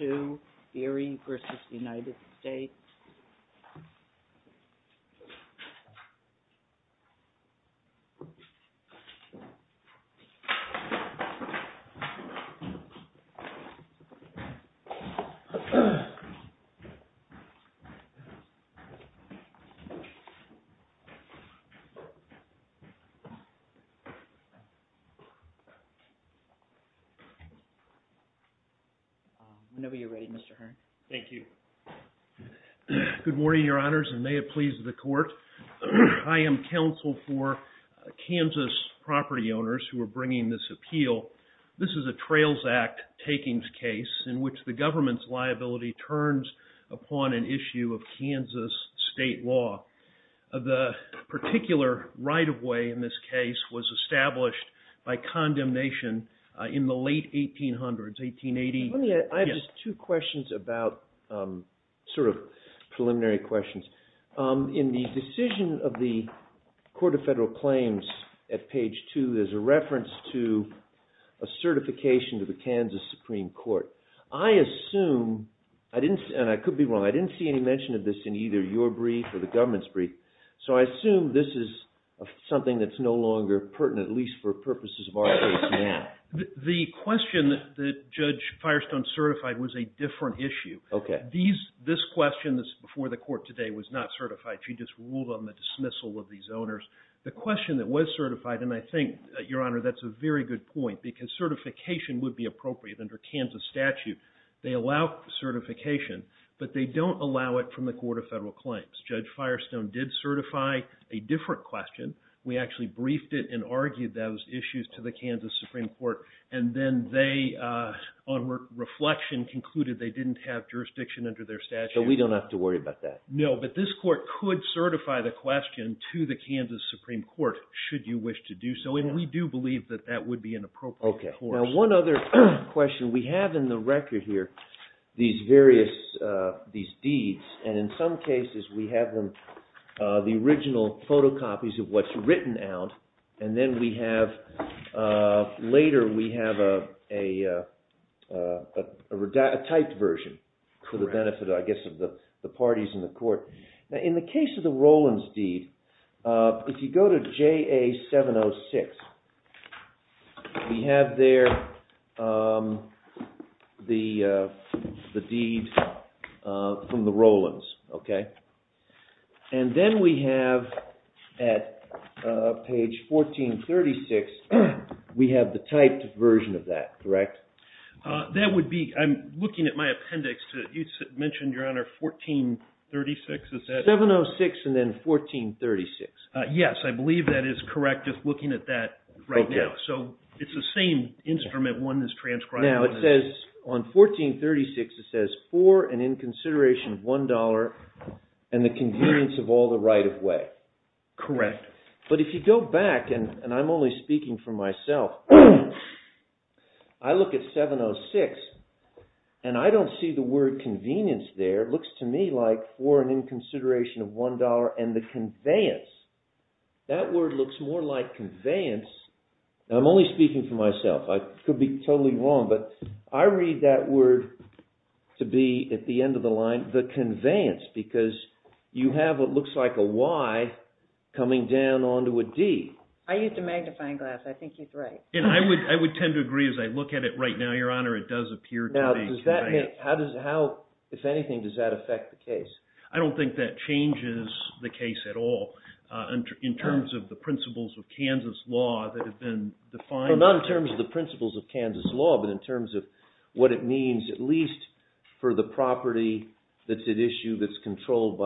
8-2 Beery v. United States Good morning, Your Honors, and may it please the Court. I am counsel for Kansas property owners who are bringing this appeal. This is a Trails Act takings case in which the government's liability turns upon an issue of Kansas state law. The particular right-of-way in this case was established by condemnation in the late 1800s, 1880. I have just two questions about, sort of preliminary questions. In the decision of the Court of Federal Claims at page 2, there's a reference to a certification to the Kansas Supreme Court. I assume, and I could be wrong, I didn't see any mention of this in either your brief or the government's brief, so I assume this is something that's no longer pertinent, at least for purposes of our case now. The question that Judge Firestone certified was a different issue. This question that's before the Court today was not certified. She just ruled on the dismissal of these owners. The question that was certified, and I think, Your Honor, that's a very good point because certification would be appropriate under Kansas statute. They allow certification, but they did certify a different question. We actually briefed it and argued those issues to the Kansas Supreme Court, and then they, on reflection, concluded they didn't have jurisdiction under their statute. So we don't have to worry about that? No, but this Court could certify the question to the Kansas Supreme Court, should you wish to do so, and we do believe that that would be an appropriate course. Okay. Now, one other question. We have in the record here these various deeds, and in some cases we have them, the original photocopies of what's written out, and then we have, later we have a typed version for the benefit, I guess, of the parties in the Court. Now, in the case of the Rollins deed, if you go to JA 706, we have there the deed from the Rollins, okay? And then we have, at page 1436, we have the typed version of that, correct? That would be, I'm looking at my appendix. You mentioned, Your Honor, 1436, is that... 706 and then 1436. Yes, I believe that is correct, just looking at that right now. So it's the same instrument, one is transcribed, one is... Now, it says, on 1436, it says, for and in consideration of one dollar, and the convenience of all the right of way. Correct. But if you go back, and I'm only speaking for myself, I look at 706, and I don't see the word convenience there, it looks to me like, for and in consideration of one dollar, and the conveyance. That word looks more like conveyance, and I'm only speaking for myself, I could be totally wrong, but I read that word to be, at the end of the line, the conveyance, because you have what looks like a Y coming down onto a D. I used a magnifying glass, I think he's right. And I would tend to agree, as I look at it right now, Your Honor, it does appear to be a Y, so how, if anything, does that affect the case? I don't think that changes the case at all, in terms of the principles of Kansas law that have been defined... Well, not in terms of the principles of Kansas law, but in terms of what it means, at least for the property that's at issue, that's controlled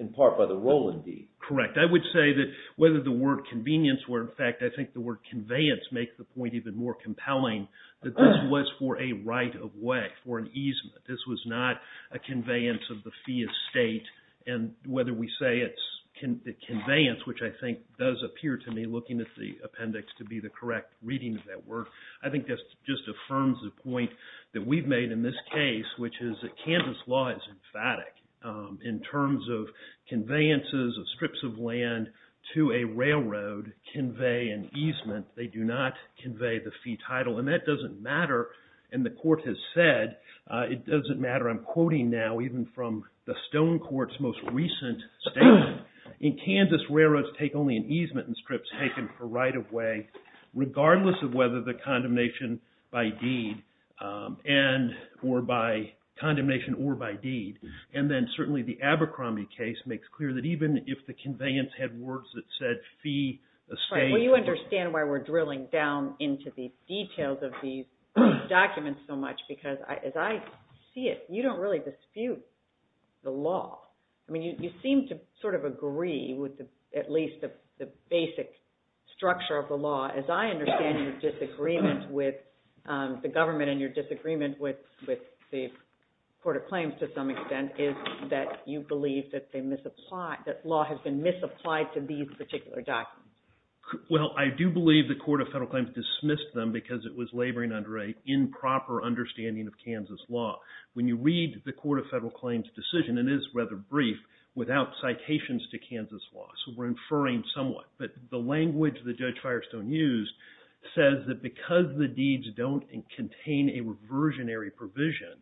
in part by the rolling deed. Correct. I would say that whether the word convenience were, in fact, I think the word convenience, this was not a conveyance of the fee of state, and whether we say it's conveyance, which I think does appear to me, looking at the appendix, to be the correct reading of that word, I think that just affirms the point that we've made in this case, which is that Kansas law is emphatic, in terms of conveyances of strips of land to a railroad convey an easement, they do not convey the fee title. And that doesn't matter, and the court has said, it doesn't matter, I'm quoting now, even from the Stone Court's most recent statement, in Kansas, railroads take only an easement and strips taken for right of way, regardless of whether the condemnation by deed, or by condemnation or by deed. And then certainly the Abercrombie case makes clear that even if the conveyance had words that said fee, estate... documents so much, because as I see it, you don't really dispute the law. I mean, you seem to sort of agree with at least the basic structure of the law, as I understand your disagreement with the government and your disagreement with the Court of Claims to some extent, is that you believe that they misapply, that law has been misapplied to these particular documents. Well, I do believe the Court of Federal Claims dismissed them because it was laboring under an improper understanding of Kansas law. When you read the Court of Federal Claims decision, it is rather brief, without citations to Kansas law, so we're inferring somewhat. But the language that Judge Firestone used says that because the deeds don't contain a reversionary provision,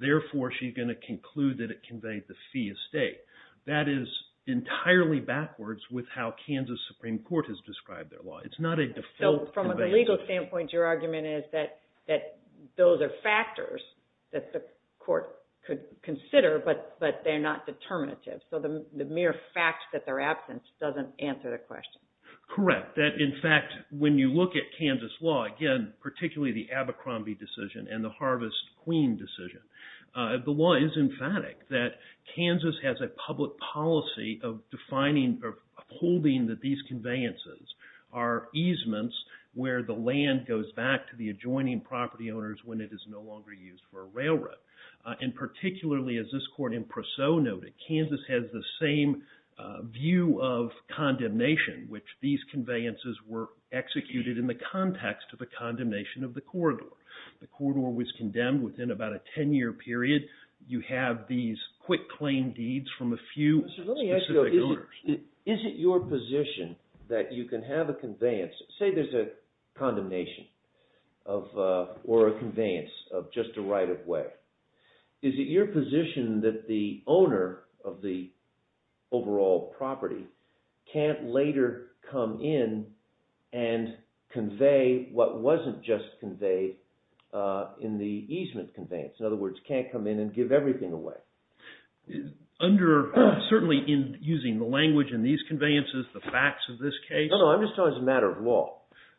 therefore she's going to conclude that it conveyed the fee estate. That is entirely backwards with how Kansas Supreme Court has described their law. It's not a default... So from a legal standpoint, your argument is that those are factors that the court could consider, but they're not determinative. So the mere fact that they're absent doesn't answer the question. Correct. That in fact, when you look at Kansas law, again, particularly the Abercrombie decision and the Harvest Queen decision, the law is emphatic that Kansas has a public policy of defining or upholding that these conveyances are easements where the land goes back to the adjoining property owners when it is no longer used for a railroad. And particularly, as this court in Preseau noted, Kansas has the same view of condemnation, which these conveyances were executed in the context of the condemnation of the corridor. The corridor was condemned within about a 10-year period. You have these quick claim deeds from a few specific owners. Let me ask you, is it your position that you can have a conveyance, say there's a condemnation or a conveyance of just a right-of-way, is it your position that the owner of the overall property can't later come in and convey what wasn't just conveyed in the easement conveyance? In other words, can't come in and give everything away? Under, certainly in using the language in these conveyances, the facts of this case. No, no, I'm just talking as a matter of law.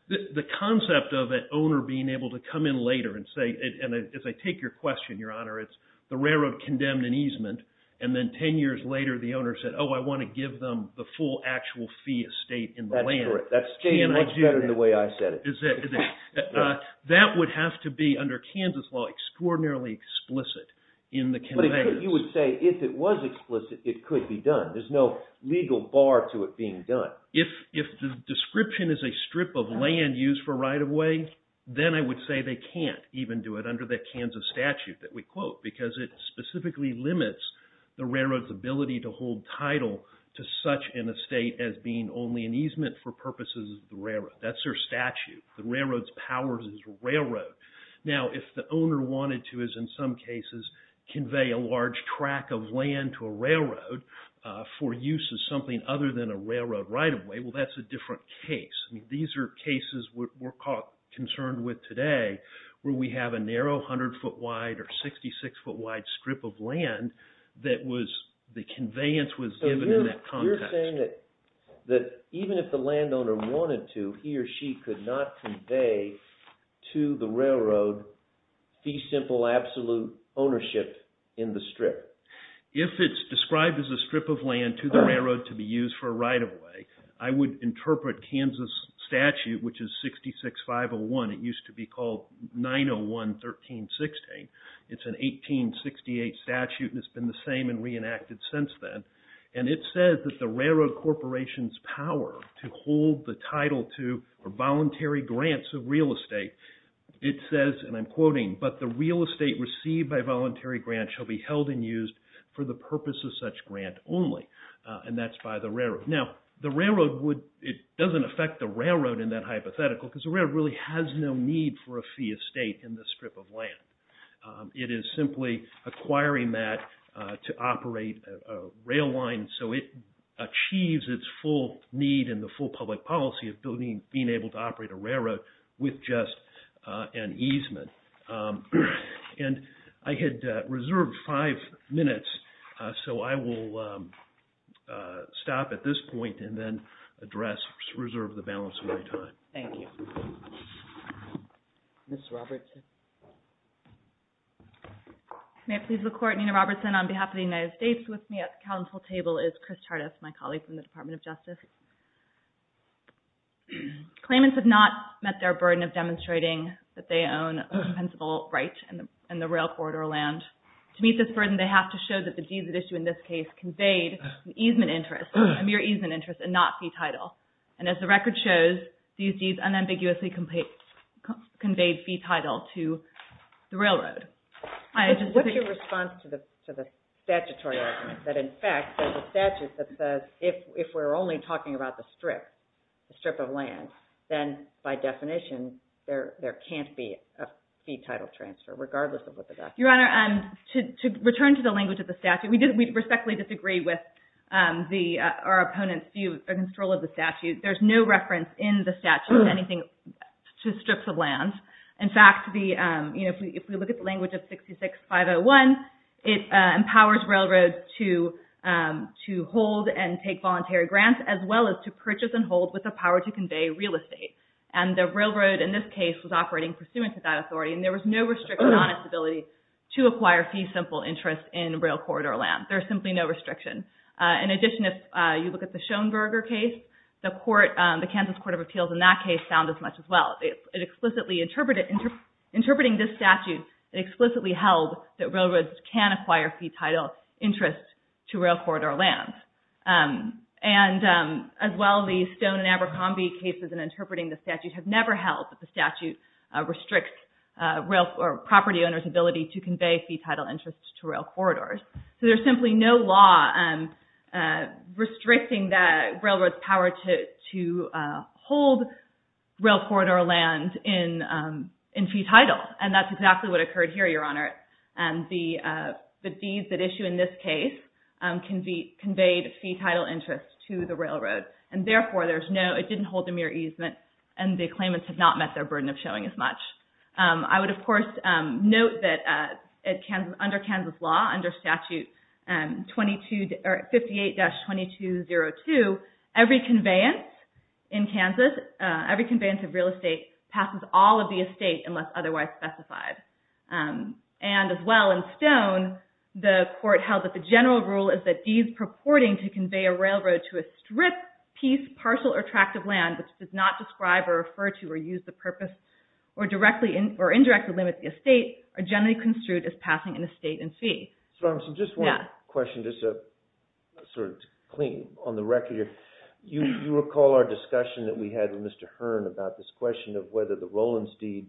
The concept of an owner being able to come in later and say, and as I take your question, Your Honor, it's the railroad condemned an easement, and then 10 years later the owner said, Oh, I want to give them the full actual fee estate in the land. That's correct. That's much better than the way I said it. That would have to be, under Kansas law, extraordinarily explicit in the conveyance. You would say, if it was explicit, it could be done. There's no legal bar to it being done. If the description is a strip of land used for right-of-way, then I would say they can't even do it under the Kansas statute that we quote, because it specifically limits the railroad's ability to hold title to such an estate as being only an easement for purposes of the railroad. That's their statute. The railroad's powers as a railroad. Now, if the owner wanted to, as in some cases, convey a large track of land to a railroad for use as something other than a railroad right-of-way, well, that's a different case. These are cases we're concerned with today where we have a narrow 100 foot wide or 66 foot wide strip of land that the conveyance was given in that context. You're saying that even if the landowner wanted to, he or she could not convey to the railroad fee simple absolute ownership in the strip? If it's described as a strip of land to the railroad to be used for a right-of-way, I would interpret Kansas statute, which is 66-501, it used to be called 901-1316. It's an 1868 statute and it's been the same and reenacted since then. And it says that the railroad corporation's power to hold the title to or voluntary grants of real estate, it says, and I'm quoting, but the real estate received by voluntary grants shall be held and used for the purpose of such grant only. And that's by the railroad. Now, the railroad would, it doesn't affect the railroad in that hypothetical because the railroad really has no need for a fee of state in the strip of land. It is simply acquiring that to operate a rail line so it achieves its full need and the full public policy of being able to operate a railroad with just an easement. And I had reserved five minutes, so I will stop at this point and then address, reserve the balance of my time. Thank you. Ms. Robertson. May it please the Court, Nina Robertson on behalf of the United States. With me at the council table is Chris Chartis, my colleague from the Department of Justice. Claimants have not met their burden of demonstrating that they own a compensable right in the rail corridor land. To meet this burden, they have to show that the deeds at issue in this case conveyed an easement interest, a mere easement interest and not fee title. And as the record shows, these deeds unambiguously conveyed fee title to the railroad. What's your response to the statutory argument that, in fact, there's a statute that says if we're only talking about the strip, the strip of land, then by definition there can't be a fee title transfer regardless of what the document says. Your Honor, to return to the language of the statute, we respectfully disagree with our opponent's view of the control of the statute. There's no reference in the statute of anything to strips of land. In fact, if we look at the language of 66-501, it empowers railroads to hold and take voluntary grants as well as to purchase and hold with the power to convey real estate. And the railroad in this case was operating pursuant to that authority and there was no restriction on its ability to acquire fee simple interest in rail corridor land. There's simply no restriction. In addition, if you look at the Schoenberger case, the Kansas Court of Appeals in that case found as much as well. In interpreting this statute, it explicitly held that railroads can acquire fee title interest to rail corridor land. And as well, the Schoenberger and Abercrombie cases in interpreting the statute have never held that the statute restricts property owners' ability to convey fee title interest to rail corridors. So there's simply no law restricting the railroad's power to hold rail corridor land in fee title. And that's exactly what occurred here, Your Honor. The deeds that issue in this case conveyed fee title interest to the railroad. And therefore, it didn't hold a mere easement and the claimants had not met their burden of showing as much. I would, of course, note that under Kansas law, under Statute 58-2202, every conveyance in Kansas, every conveyance of real estate, passes all of the estate unless otherwise specified. And as well, in Stone, the court held that the general rule is that deeds purporting to convey a railroad to a strip, piece, parcel, or tract of land which does not describe or refer to or use the purpose or indirectly limit the estate are generally construed as passing an estate in fee. So I'm going to suggest one question, just sort of to clean on the record here. You recall our discussion that we had with Mr. Hearn about this question of whether the Rollins deed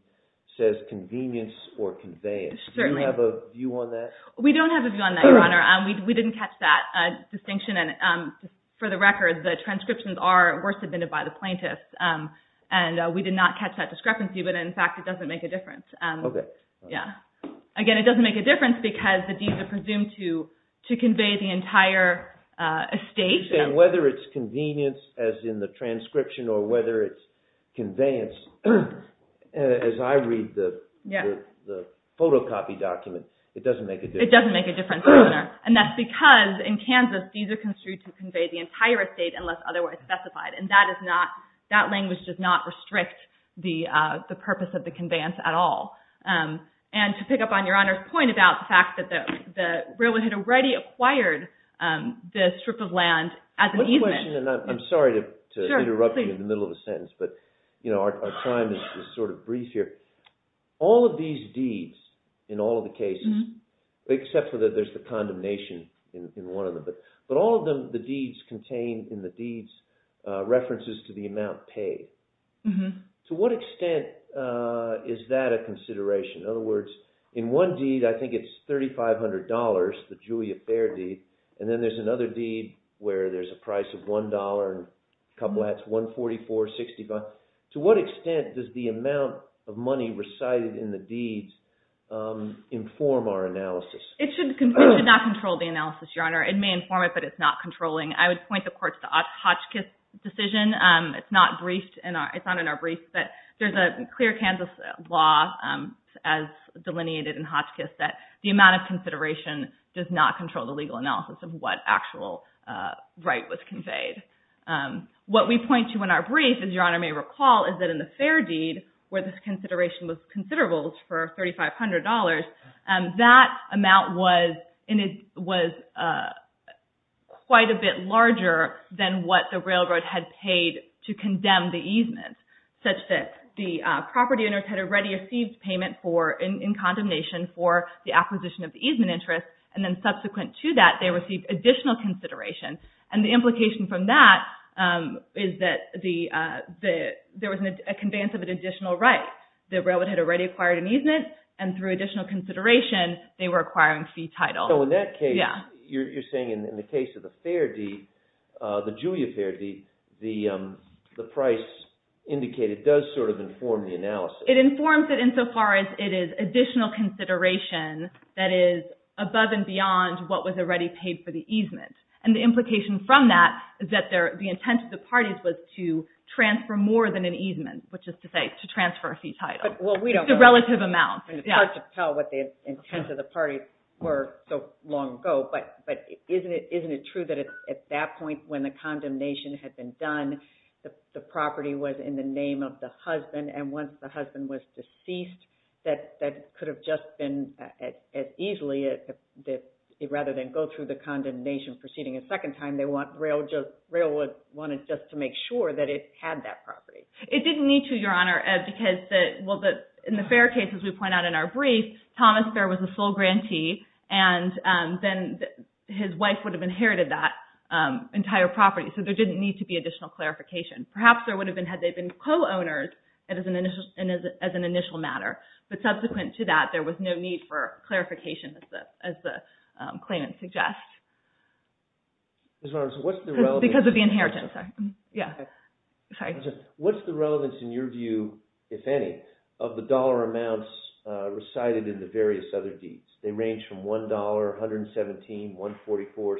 says convenience or conveyance. Do you have a view on that? We don't have a view on that, Your Honor. We didn't catch that distinction. And for the record, the transcriptions are worse admitted by the plaintiffs. And we did not catch that discrepancy, but in fact, it doesn't make a difference. Okay. Yeah. Again, it doesn't make a difference because the deeds are presumed to convey the entire estate. You're saying whether it's convenience as in the transcription or whether it's conveyance. As I read the photocopy document, it doesn't make a difference. It doesn't make a difference, Your Honor. And that's because in Kansas, deeds are construed to convey the entire estate unless otherwise specified. And that language does not restrict the purpose of the conveyance at all. And to pick up on Your Honor's point about the fact that the Railway had already acquired the strip of land as an easement. One question, and I'm sorry to interrupt you in the middle of a sentence, but our time is sort of brief here. All of these deeds in all of the cases, except for that there's the condemnation in one of them. But all of the deeds contained in the deeds references to the amount paid. To what extent is that a consideration? In other words, in one deed, I think it's $3,500, the Julia Fair deed. And then there's another deed where there's a price of $1 and a couple of hats, $144, $165. To what extent does the amount of money recited in the deeds inform our analysis? It should not control the analysis, Your Honor. It may inform it, but it's not controlling. I would point the courts to Hotchkiss' decision. It's not in our brief, but there's a clear Kansas law as delineated in Hotchkiss that the amount of consideration does not control the legal analysis of what actual right was conveyed. What we point to in our brief, as Your Honor may recall, is that in the Fair deed, where this consideration was considerable for $3,500, that amount was quite a bit larger than what the railroad had paid to condemn the easements, such that the property owners had already received payment in condemnation for the acquisition of the easement interest. And then subsequent to that, they received additional consideration. And the implication from that is that there was a conveyance of an additional right. The railroad had already acquired an easement, and through additional consideration, they were acquiring fee titles. So in that case, you're saying in the case of the Julia Fair deed, the price indicated does sort of inform the analysis. It informs it insofar as it is additional consideration that is above and beyond what was already paid for the easement. And the implication from that is that the intent of the parties was to transfer more than an easement, which is to say to transfer a fee title. It's a relative amount. It's hard to tell what the intents of the parties were so long ago. But isn't it true that at that point when the condemnation had been done, the property was in the name of the husband? And once the husband was deceased, that could have just been as easily, rather than go through the condemnation proceeding a second time, they wanted just to make sure that it had that property. It didn't need to, Your Honor, because in the Fair case, as we point out in our brief, Thomas Fair was a sole grantee. And then his wife would have inherited that entire property. So there didn't need to be additional clarification. Perhaps there would have been had they been co-owners as an initial matter. But subsequent to that, there was no need for clarification as the claimant suggests. Because of the inheritance. Yeah. Sorry. What's the relevance in your view, if any, of the dollar amounts recited in the various other deeds? They range from $1, $117, $144, $65.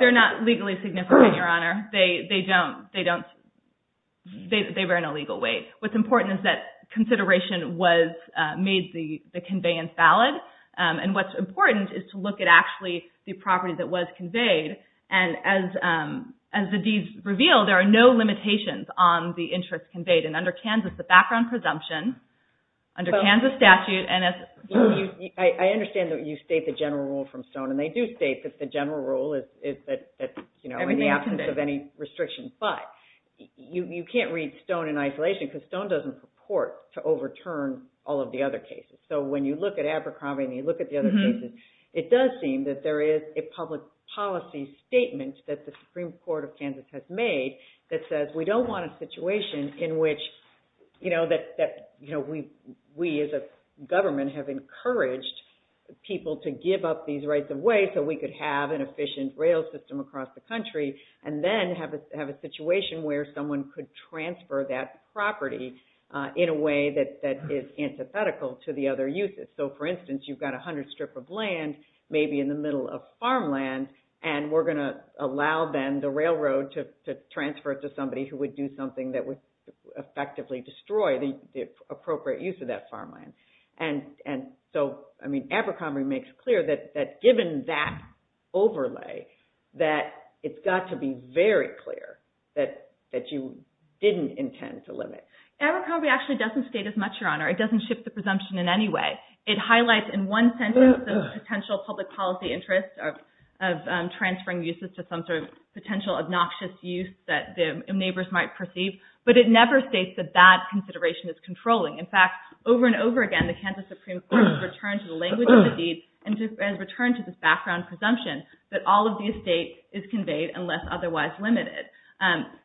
They're not legally significant, Your Honor. They don't – they don't – they were in a legal way. What's important is that consideration was – made the conveyance valid. And what's important is to look at actually the property that was conveyed. And as the deeds reveal, there are no limitations on the interest conveyed. And under Kansas, the background presumption, under Kansas statute, and as – I understand that you state the general rule from Stone. And they do state that the general rule is that, you know, in the absence of any restrictions. But you can't read Stone in isolation because Stone doesn't purport to overturn all of the other cases. So when you look at Abercrombie and you look at the other cases, it does seem that there is a public policy statement that the Supreme Court of Kansas has made that says we don't want a situation in which, you know, that we as a government have encouraged people to give up these rights of way so we could have an efficient rail system across the country and then have a situation where someone could transfer that property in a way that is antithetical to the other uses. So, for instance, you've got 100 strip of land, maybe in the middle of farmland, and we're going to allow then the railroad to transfer it to somebody who would do something that would effectively destroy the appropriate use of that farmland. And so, I mean, Abercrombie makes clear that given that overlay, that it's got to be very clear that you didn't intend to limit. Abercrombie actually doesn't state as much, Your Honor. It doesn't shift the presumption in any way. It highlights in one sentence the potential public policy interest of transferring uses to some sort of potential obnoxious use that the neighbors might perceive. But it never states that that consideration is controlling. In fact, over and over again, the Kansas Supreme Court has returned to the language of the deed and has returned to this background presumption that all of the estate is conveyed unless otherwise limited.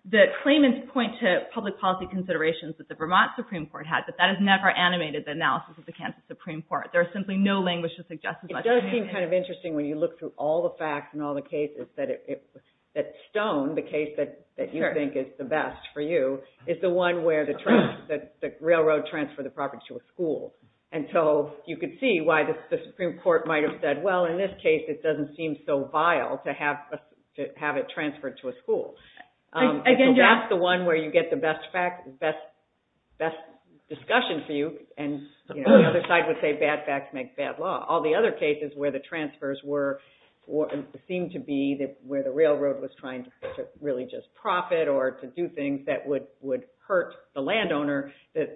The claimants point to public policy considerations that the Vermont Supreme Court had, but that has never animated the analysis of the Kansas Supreme Court. There is simply no language to suggest as much. It does seem kind of interesting when you look through all the facts and all the cases that stone the case that you think is the best for you is the one where the railroad transferred the property to a school. And so you could see why the Supreme Court might have said, well, in this case, it doesn't seem so vile to have it transferred to a school. So that's the one where you get the best discussion for you. And the other side would say bad facts make bad law. All the other cases where the transfers seemed to be where the railroad was trying to really just profit or to do things that would hurt the landowner, the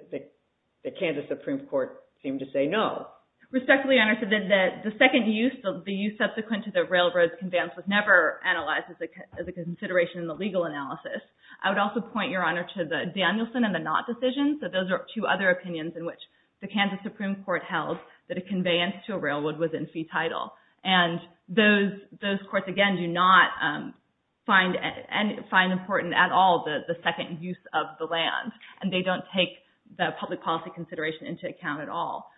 Kansas Supreme Court seemed to say no. Respectfully, Your Honor, the second use, the use subsequent to the railroad's conveyance, was never analyzed as a consideration in the legal analysis. I would also point, Your Honor, to the Danielson and the Knott decisions. So those are two other opinions in which the Kansas Supreme Court held that a conveyance to a railroad was in fee title. And those courts, again, do not find important at all the second use of the land. And they don't take the public policy consideration into account at all.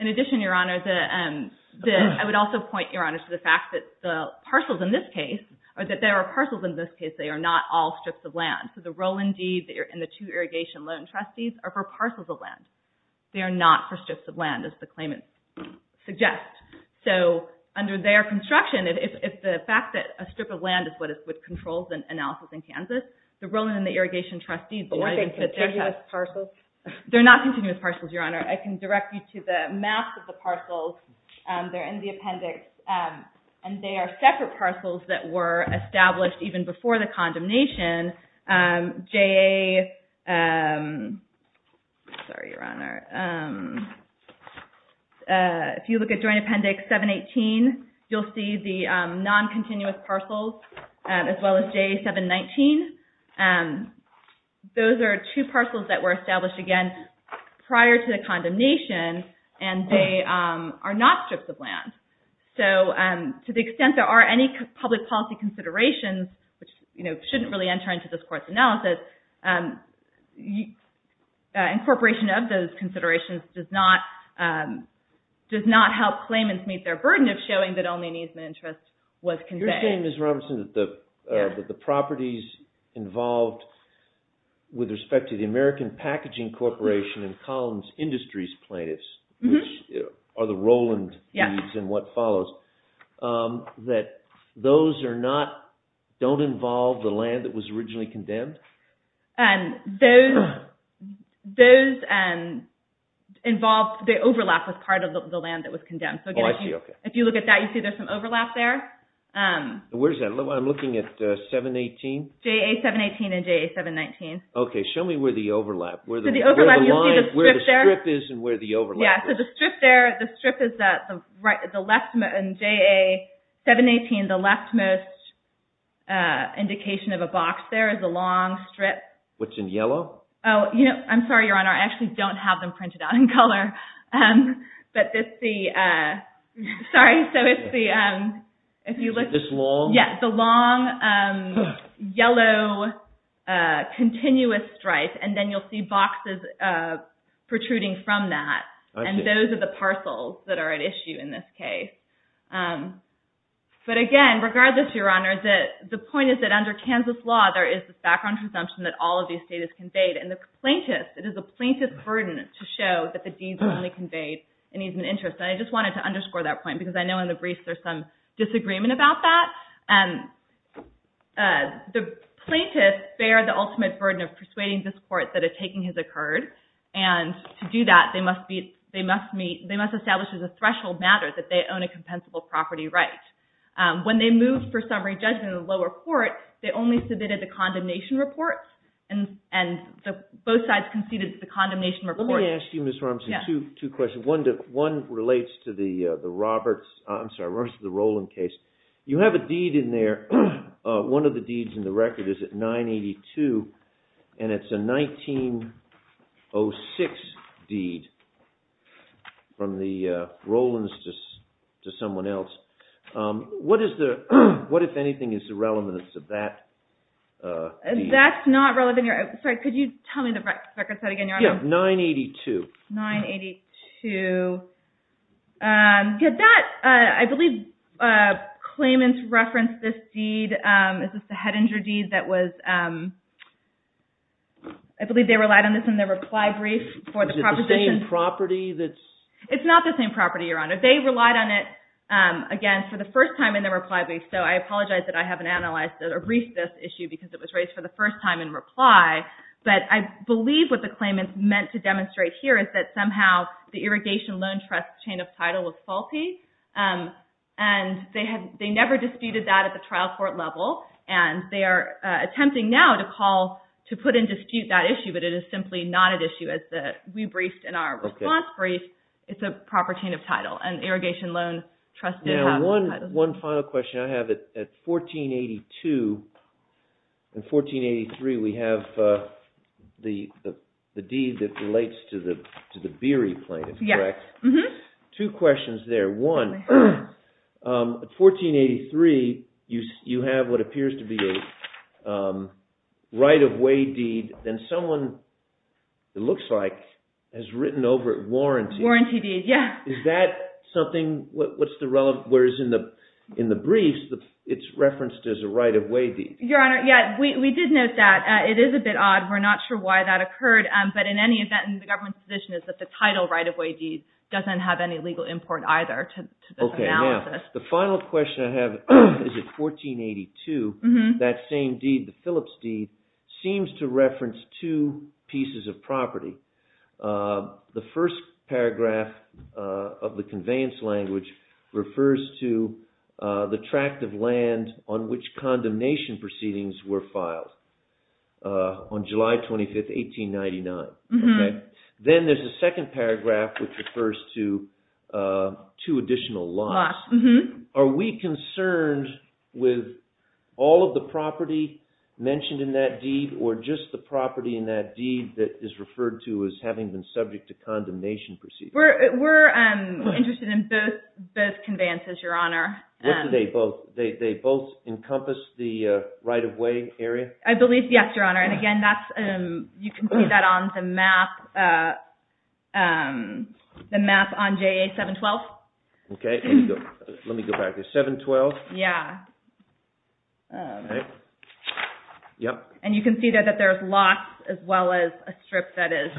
In addition, Your Honor, I would also point, Your Honor, to the fact that the parcels in this case, or that there are parcels in this case, they are not all strips of land. So the Rowland deed and the two irrigation loan trustees are for parcels of land. They are not for strips of land, as the claimant suggests. So under their construction, if the fact that a strip of land is what controls the analysis in Kansas, the Rowland and the irrigation trustees do not even fit that. Or are they continuous parcels? They're not continuous parcels, Your Honor. I can direct you to the maps of the parcels. They're in the appendix. And they are separate parcels that were established even before the condemnation. If you look at Joint Appendix 718, you'll see the non-continuous parcels, as well as JA 719. Those are two parcels that were established, again, prior to the condemnation. So to the extent there are any public policy considerations, which shouldn't really enter into this Court's analysis, incorporation of those considerations does not help claimants meet their burden of showing that only an easement interest was conveyed. You're saying, Ms. Robinson, that the properties involved with respect to the American Packaging Corporation and Collins Industries plaintiffs, which are the Rowland deeds and what follows, that those don't involve the land that was originally condemned? The overlap was part of the land that was condemned. Oh, I see, okay. If you look at that, you see there's some overlap there. Where is that? I'm looking at 718? JA 718 and JA 719. Okay, show me where the overlap is. You'll see the strip there. Where the strip is and where the overlap is. Yeah, so the strip there, the strip is the leftmost. In JA 718, the leftmost indication of a box there is a long strip. What's in yellow? Oh, I'm sorry, Your Honor, I actually don't have them printed out in color. This long? Yeah, the long, yellow, continuous stripe. And then you'll see boxes protruding from that. And those are the parcels that are at issue in this case. But again, regardless, Your Honor, the point is that under Kansas law, there is this background presumption that all of the estate is conveyed. And the plaintiffs, it is a plaintiff's burden to show that the deeds are only conveyed in ease of interest. And I just wanted to underscore that point because I know in the briefs there's some disagreement about that. The plaintiffs bear the ultimate burden of persuading this court that a taking has occurred. And to do that, they must establish as a threshold matter that they own a compensable property right. When they moved for summary judgment in the lower court, they only submitted the condemnation report, and both sides conceded the condemnation report. Let me ask you, Ms. Robinson, two questions. One relates to the Roberts, I'm sorry, the Roland case. You have a deed in there, one of the deeds in the record is at 982, and it's a 1906 deed from the Rolands to someone else. What, if anything, is the relevance of that deed? That's not relevant. Sorry, could you tell me the record set again, Your Honor? Yeah, 982. 982. Did that, I believe claimants referenced this deed, is this the head injury deed that was, I believe they relied on this in their reply brief for the proposition. Is it the same property that's? It's not the same property, Your Honor. They relied on it, again, for the first time in their reply brief, so I apologize that I haven't analyzed or briefed this issue because it was raised for the first time in reply. But I believe what the claimants meant to demonstrate here is that somehow the irrigation loan trust chain of title was faulty, and they never disputed that at the trial court level, and they are attempting now to call, to put in dispute that issue, but it is simply not an issue as we briefed in our response brief. It's a proper chain of title, and irrigation loan trust did have. One final question I have. At 1482 and 1483, we have the deed that relates to the Beery plaintiff, correct? Yes. Two questions there. One, at 1483, you have what appears to be a right-of-way deed, and someone, it looks like, has written over it warranty. Warranty deed, yes. Is that something, whereas in the briefs, it's referenced as a right-of-way deed? Your Honor, yes, we did note that. It is a bit odd. We're not sure why that occurred, but in any event, the government's position is that the title right-of-way deed doesn't have any legal import either to this analysis. Okay, now, the final question I have is at 1482, that same deed, the Phillips deed, seems to reference two pieces of property. The first paragraph of the conveyance language refers to the tract of land on which condemnation proceedings were filed on July 25th, 1899. Then there's a second paragraph which refers to two additional laws. Are we concerned with all of the property mentioned in that deed or just the property in that deed that is referred to as having been subject to condemnation proceedings? We're interested in both conveyances, Your Honor. What do they both? They both encompass the right-of-way area? I believe, yes, Your Honor. And again, you can see that on the map on JA 712. Okay, let me go back there. 712? Yeah. Yep. And you can see that there's lots as well as a strip that is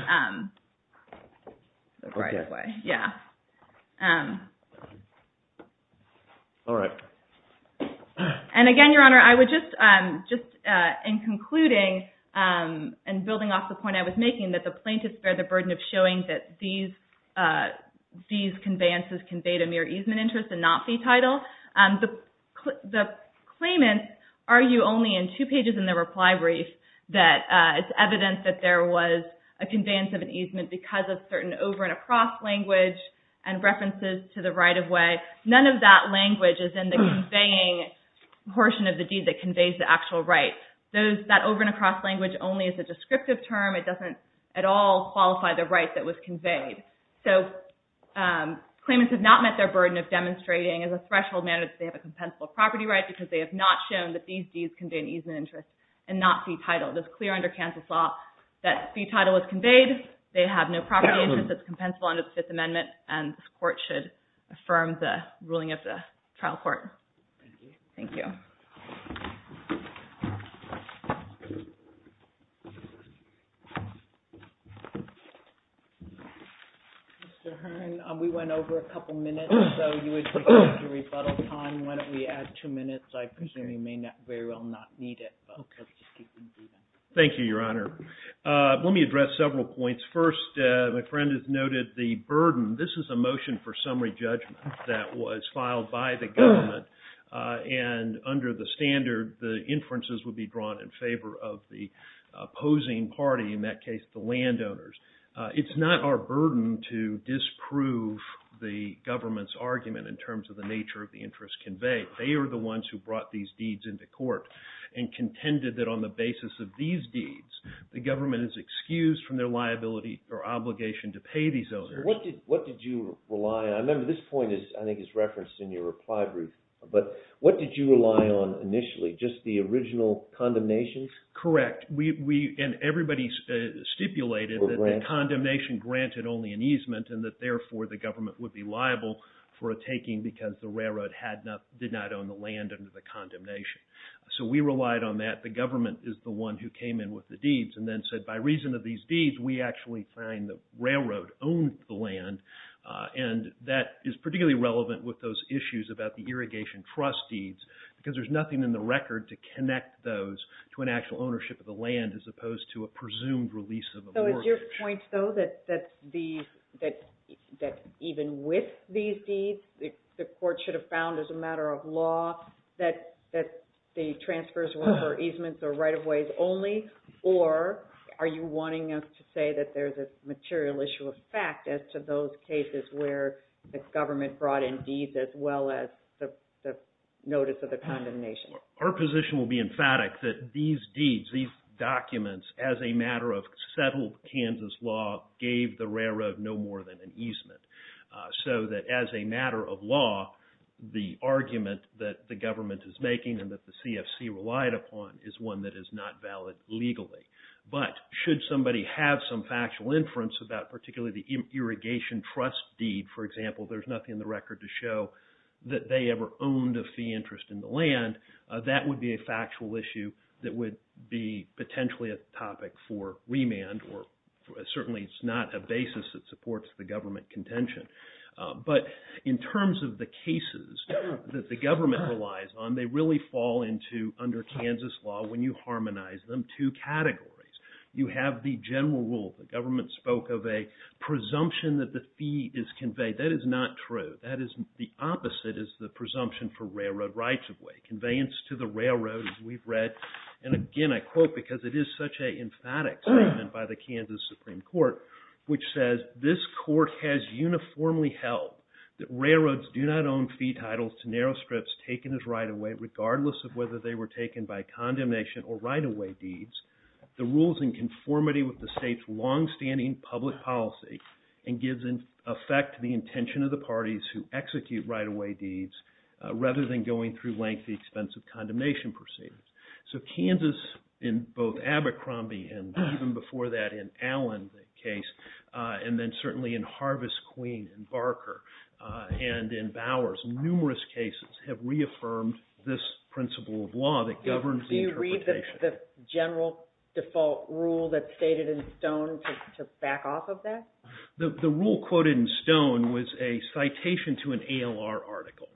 the right-of-way. Okay. Yeah. All right. And again, Your Honor, I would just, in concluding and building off the point I was making, that the plaintiffs bear the burden of showing that these conveyances conveyed a mere easement interest and not the title. The claimants argue only in two pages in the reply brief that it's evident that there was a conveyance of an easement because of certain over-and-across language and references to the right-of-way. None of that language is in the conveying portion of the deed that conveys the actual right. That over-and-across language only is a descriptive term. It doesn't at all qualify the right that was conveyed. So claimants have not met their burden of demonstrating as a threshold manager that they have a compensable property right because they have not shown that these deeds convey an easement interest and not fee title. It's clear under Kansas law that fee title was conveyed. They have no property interest that's compensable under the Fifth Amendment, and this court should affirm the ruling of the trial court. Thank you. Thank you. Mr. Hearn, we went over a couple minutes, so you would prefer to rebuttal time. Why don't we add two minutes? I presume you may very well not need it. Thank you, Your Honor. Let me address several points. First, my friend has noted the burden. This is a motion for summary judgment that was filed by the government, and under the standard, the inferences would be drawn in favor of the opposing party, in that case the landowners. It's not our burden to disprove the government's argument in terms of the nature of the interest conveyed. They are the ones who brought these deeds into court and contended that on the basis of these deeds, the government is excused from their liability or obligation to pay these owners. What did you rely on? I remember this point, I think, is referenced in your reply brief, but what did you rely on initially, just the original condemnation? Correct. Everybody stipulated that the condemnation granted only an easement, and that therefore the government would be liable for a taking because the railroad did not own the land under the condemnation. So we relied on that. The government is the one who came in with the deeds and then said, by reason of these deeds, we actually find the railroad owns the land. And that is particularly relevant with those issues about the irrigation trust deeds, because there's nothing in the record to connect those to an actual ownership of the land, as opposed to a presumed release of a mortgage. So is your point, though, that even with these deeds, the court should have found as a matter of law that the transfers were for easements or right-of-ways only? Or are you wanting us to say that there's a material issue of fact as to those cases where the government brought in deeds as well as the notice of the condemnation? Our position will be emphatic that these deeds, these documents, as a matter of settled Kansas law, gave the railroad no more than an easement. So that as a matter of law, the argument that the government is making and that the CFC relied upon is one that is not valid legally. But should somebody have some factual inference about particularly the irrigation trust deed, for example, there's nothing in the record to show that they ever owned a fee interest in the land, that would be a factual issue that would be potentially a topic for remand, or certainly it's not a basis that supports the government contention. But in terms of the cases that the government relies on, they really fall into, under Kansas law, when you harmonize them, two categories. You have the general rule. The government spoke of a presumption that the fee is conveyed. That is not true. The opposite is the presumption for railroad rights-of-way, conveyance to the railroad, as we've read. And again, I quote, because it is such an emphatic statement by the Kansas Supreme Court, which says, this court has uniformly held that railroads do not own fee titles to narrow strips taken as right-of-way, regardless of whether they were taken by condemnation or right-of-way deeds. The rule is in conformity with the state's longstanding public policy and gives effect to the intention of the parties who execute right-of-way deeds, rather than going through lengthy, expensive condemnation proceedings. So Kansas, in both Abercrombie and even before that in Allen's case, and then certainly in Harvest Queen and Barker and in Bowers, numerous cases have reaffirmed this principle of law that governs the interpretation. Do you read the general default rule that's stated in Stone to back off of that? The rule quoted in Stone was a citation to an ALR article.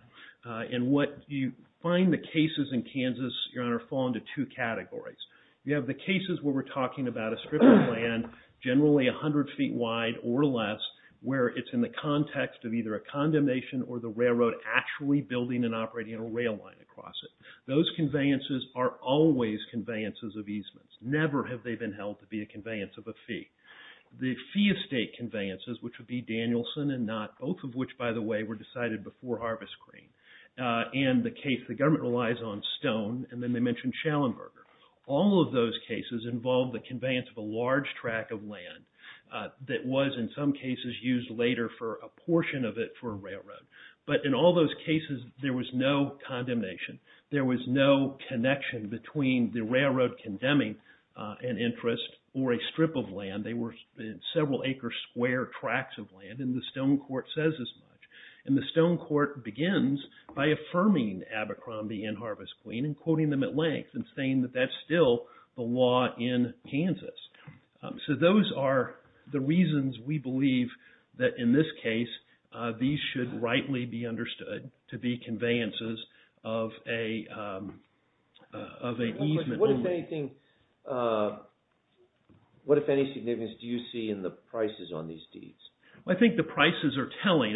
And what you find the cases in Kansas, Your Honor, fall into two categories. You have the cases where we're talking about a strip of land, generally 100 feet wide or less, where it's in the context of either a condemnation or the railroad actually building and operating a rail line across it. Those conveyances are always conveyances of easements. Never have they been held to be a conveyance of a fee. The fee of state conveyances, which would be Danielson and Knott, both of which, by the way, were decided before Harvest Queen, and the case the government relies on Stone, and then they mention Schellenberger. All of those cases involve the conveyance of a large track of land that was, in some cases, used later for a portion of it for a railroad. But in all those cases, there was no condemnation. There was no connection between the railroad condemning an interest or a strip of land. They were several acre square tracks of land, and the Stone Court says as much. And the Stone Court begins by affirming Abercrombie and Harvest Queen and quoting them at length and saying that that's still the law in Kansas. So those are the reasons we believe that in this case, these should rightly be understood to be conveyances of a easement only. What, if any, significance do you see in the prices on these deeds? I think the prices are telling.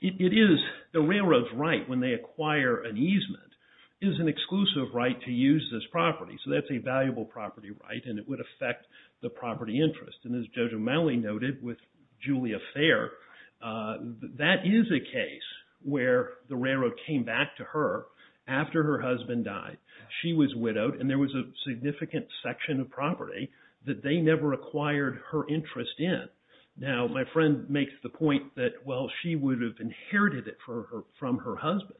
The railroad's right when they acquire an easement is an exclusive right to use this property. So that's a valuable property right, and it would affect the property interest. And as Judge O'Malley noted with Julia Fair, that is a case where the railroad came back to her after her husband died. She was widowed, and there was a significant section of property that they never acquired her interest in. Now, my friend makes the point that, well, she would have inherited it from her husband.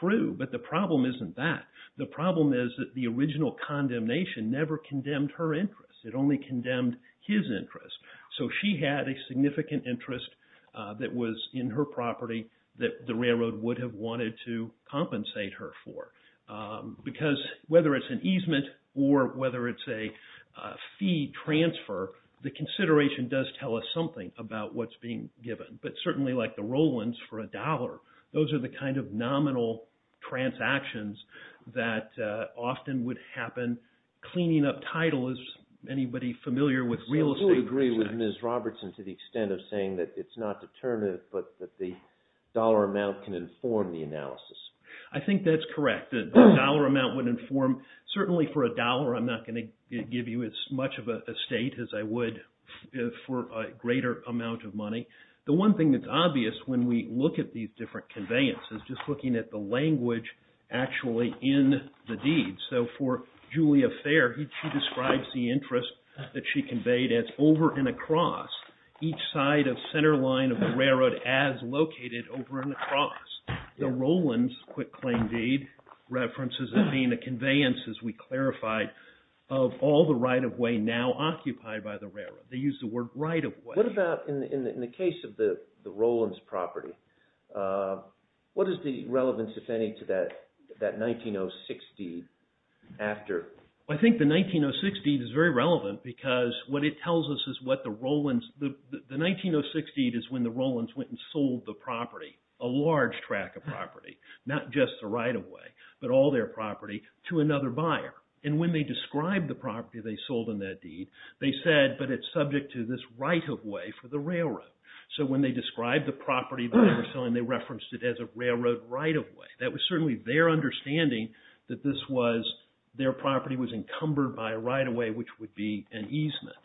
True, but the problem isn't that. The problem is that the original condemnation never condemned her interest. It only condemned his interest. So she had a significant interest that was in her property that the railroad would have wanted to compensate her for. Because whether it's an easement or whether it's a fee transfer, the consideration does tell us something about what's being given. But certainly like the Rollins for a dollar, those are the kind of nominal transactions that often would happen. Cleaning up title, is anybody familiar with real estate? I fully agree with Ms. Robertson to the extent of saying that it's not determinative, but that the dollar amount can inform the analysis. I think that's correct. The dollar amount would inform, certainly for a dollar I'm not going to give you as much of an estate as I would for a greater amount of money. The one thing that's obvious when we look at these different conveyances, just looking at the language actually in the deeds. So for Julia Fair, she describes the interest that she conveyed as over and across each side of center line of the railroad as located over and across. The Rollins quick claim deed references it being a conveyance, as we clarified, of all the right-of-way now occupied by the railroad. They use the word right-of-way. What about in the case of the Rollins property? What is the relevance, if any, to that 1906 deed after? I think the 1906 deed is very relevant because what it tells us is what the Rollins, the 1906 deed is when the Rollins went and sold the property, a large track of property, not just the right-of-way, but all their property to another buyer. And when they described the property they sold in that deed, they said, but it's subject to this right-of-way for the railroad. So when they described the property they were selling, they referenced it as a railroad right-of-way. That was certainly their understanding that this was, their property was encumbered by a right-of-way, which would be an easement.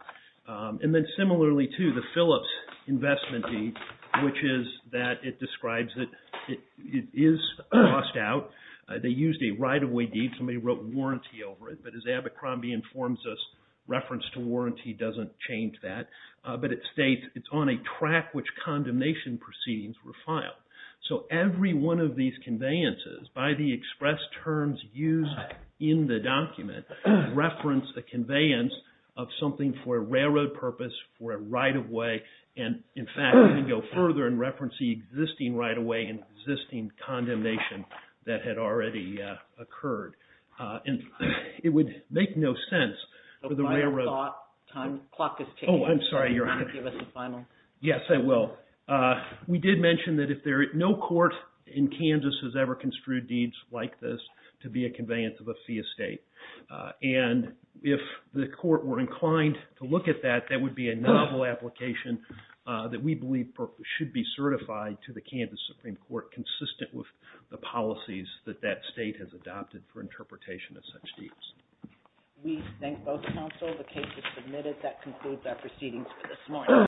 And then similarly to the Phillips investment deed, which is that it describes that it is lost out. They used a right-of-way deed. Somebody wrote warranty over it, but as Abercrombie informs us, reference to warranty doesn't change that. But it states it's on a track which condemnation proceedings were filed. So every one of these conveyances, by the express terms used in the document, reference the conveyance of something for a railroad purpose, for a right-of-way, and in fact, we can go further and reference the existing right-of-way and existing condemnation that had already occurred. And it would make no sense for the railroad. Oh, I'm sorry, Your Honor. Yes, I will. We did mention that no court in Kansas has ever construed deeds like this to be a conveyance of a fee estate. And if the court were inclined to look at that, that would be a novel application that we believe should be certified to the Kansas Supreme Court consistent with the policies that that state has adopted for interpretation of such deeds. We thank both counsel. The case is submitted. That concludes our proceedings for this morning.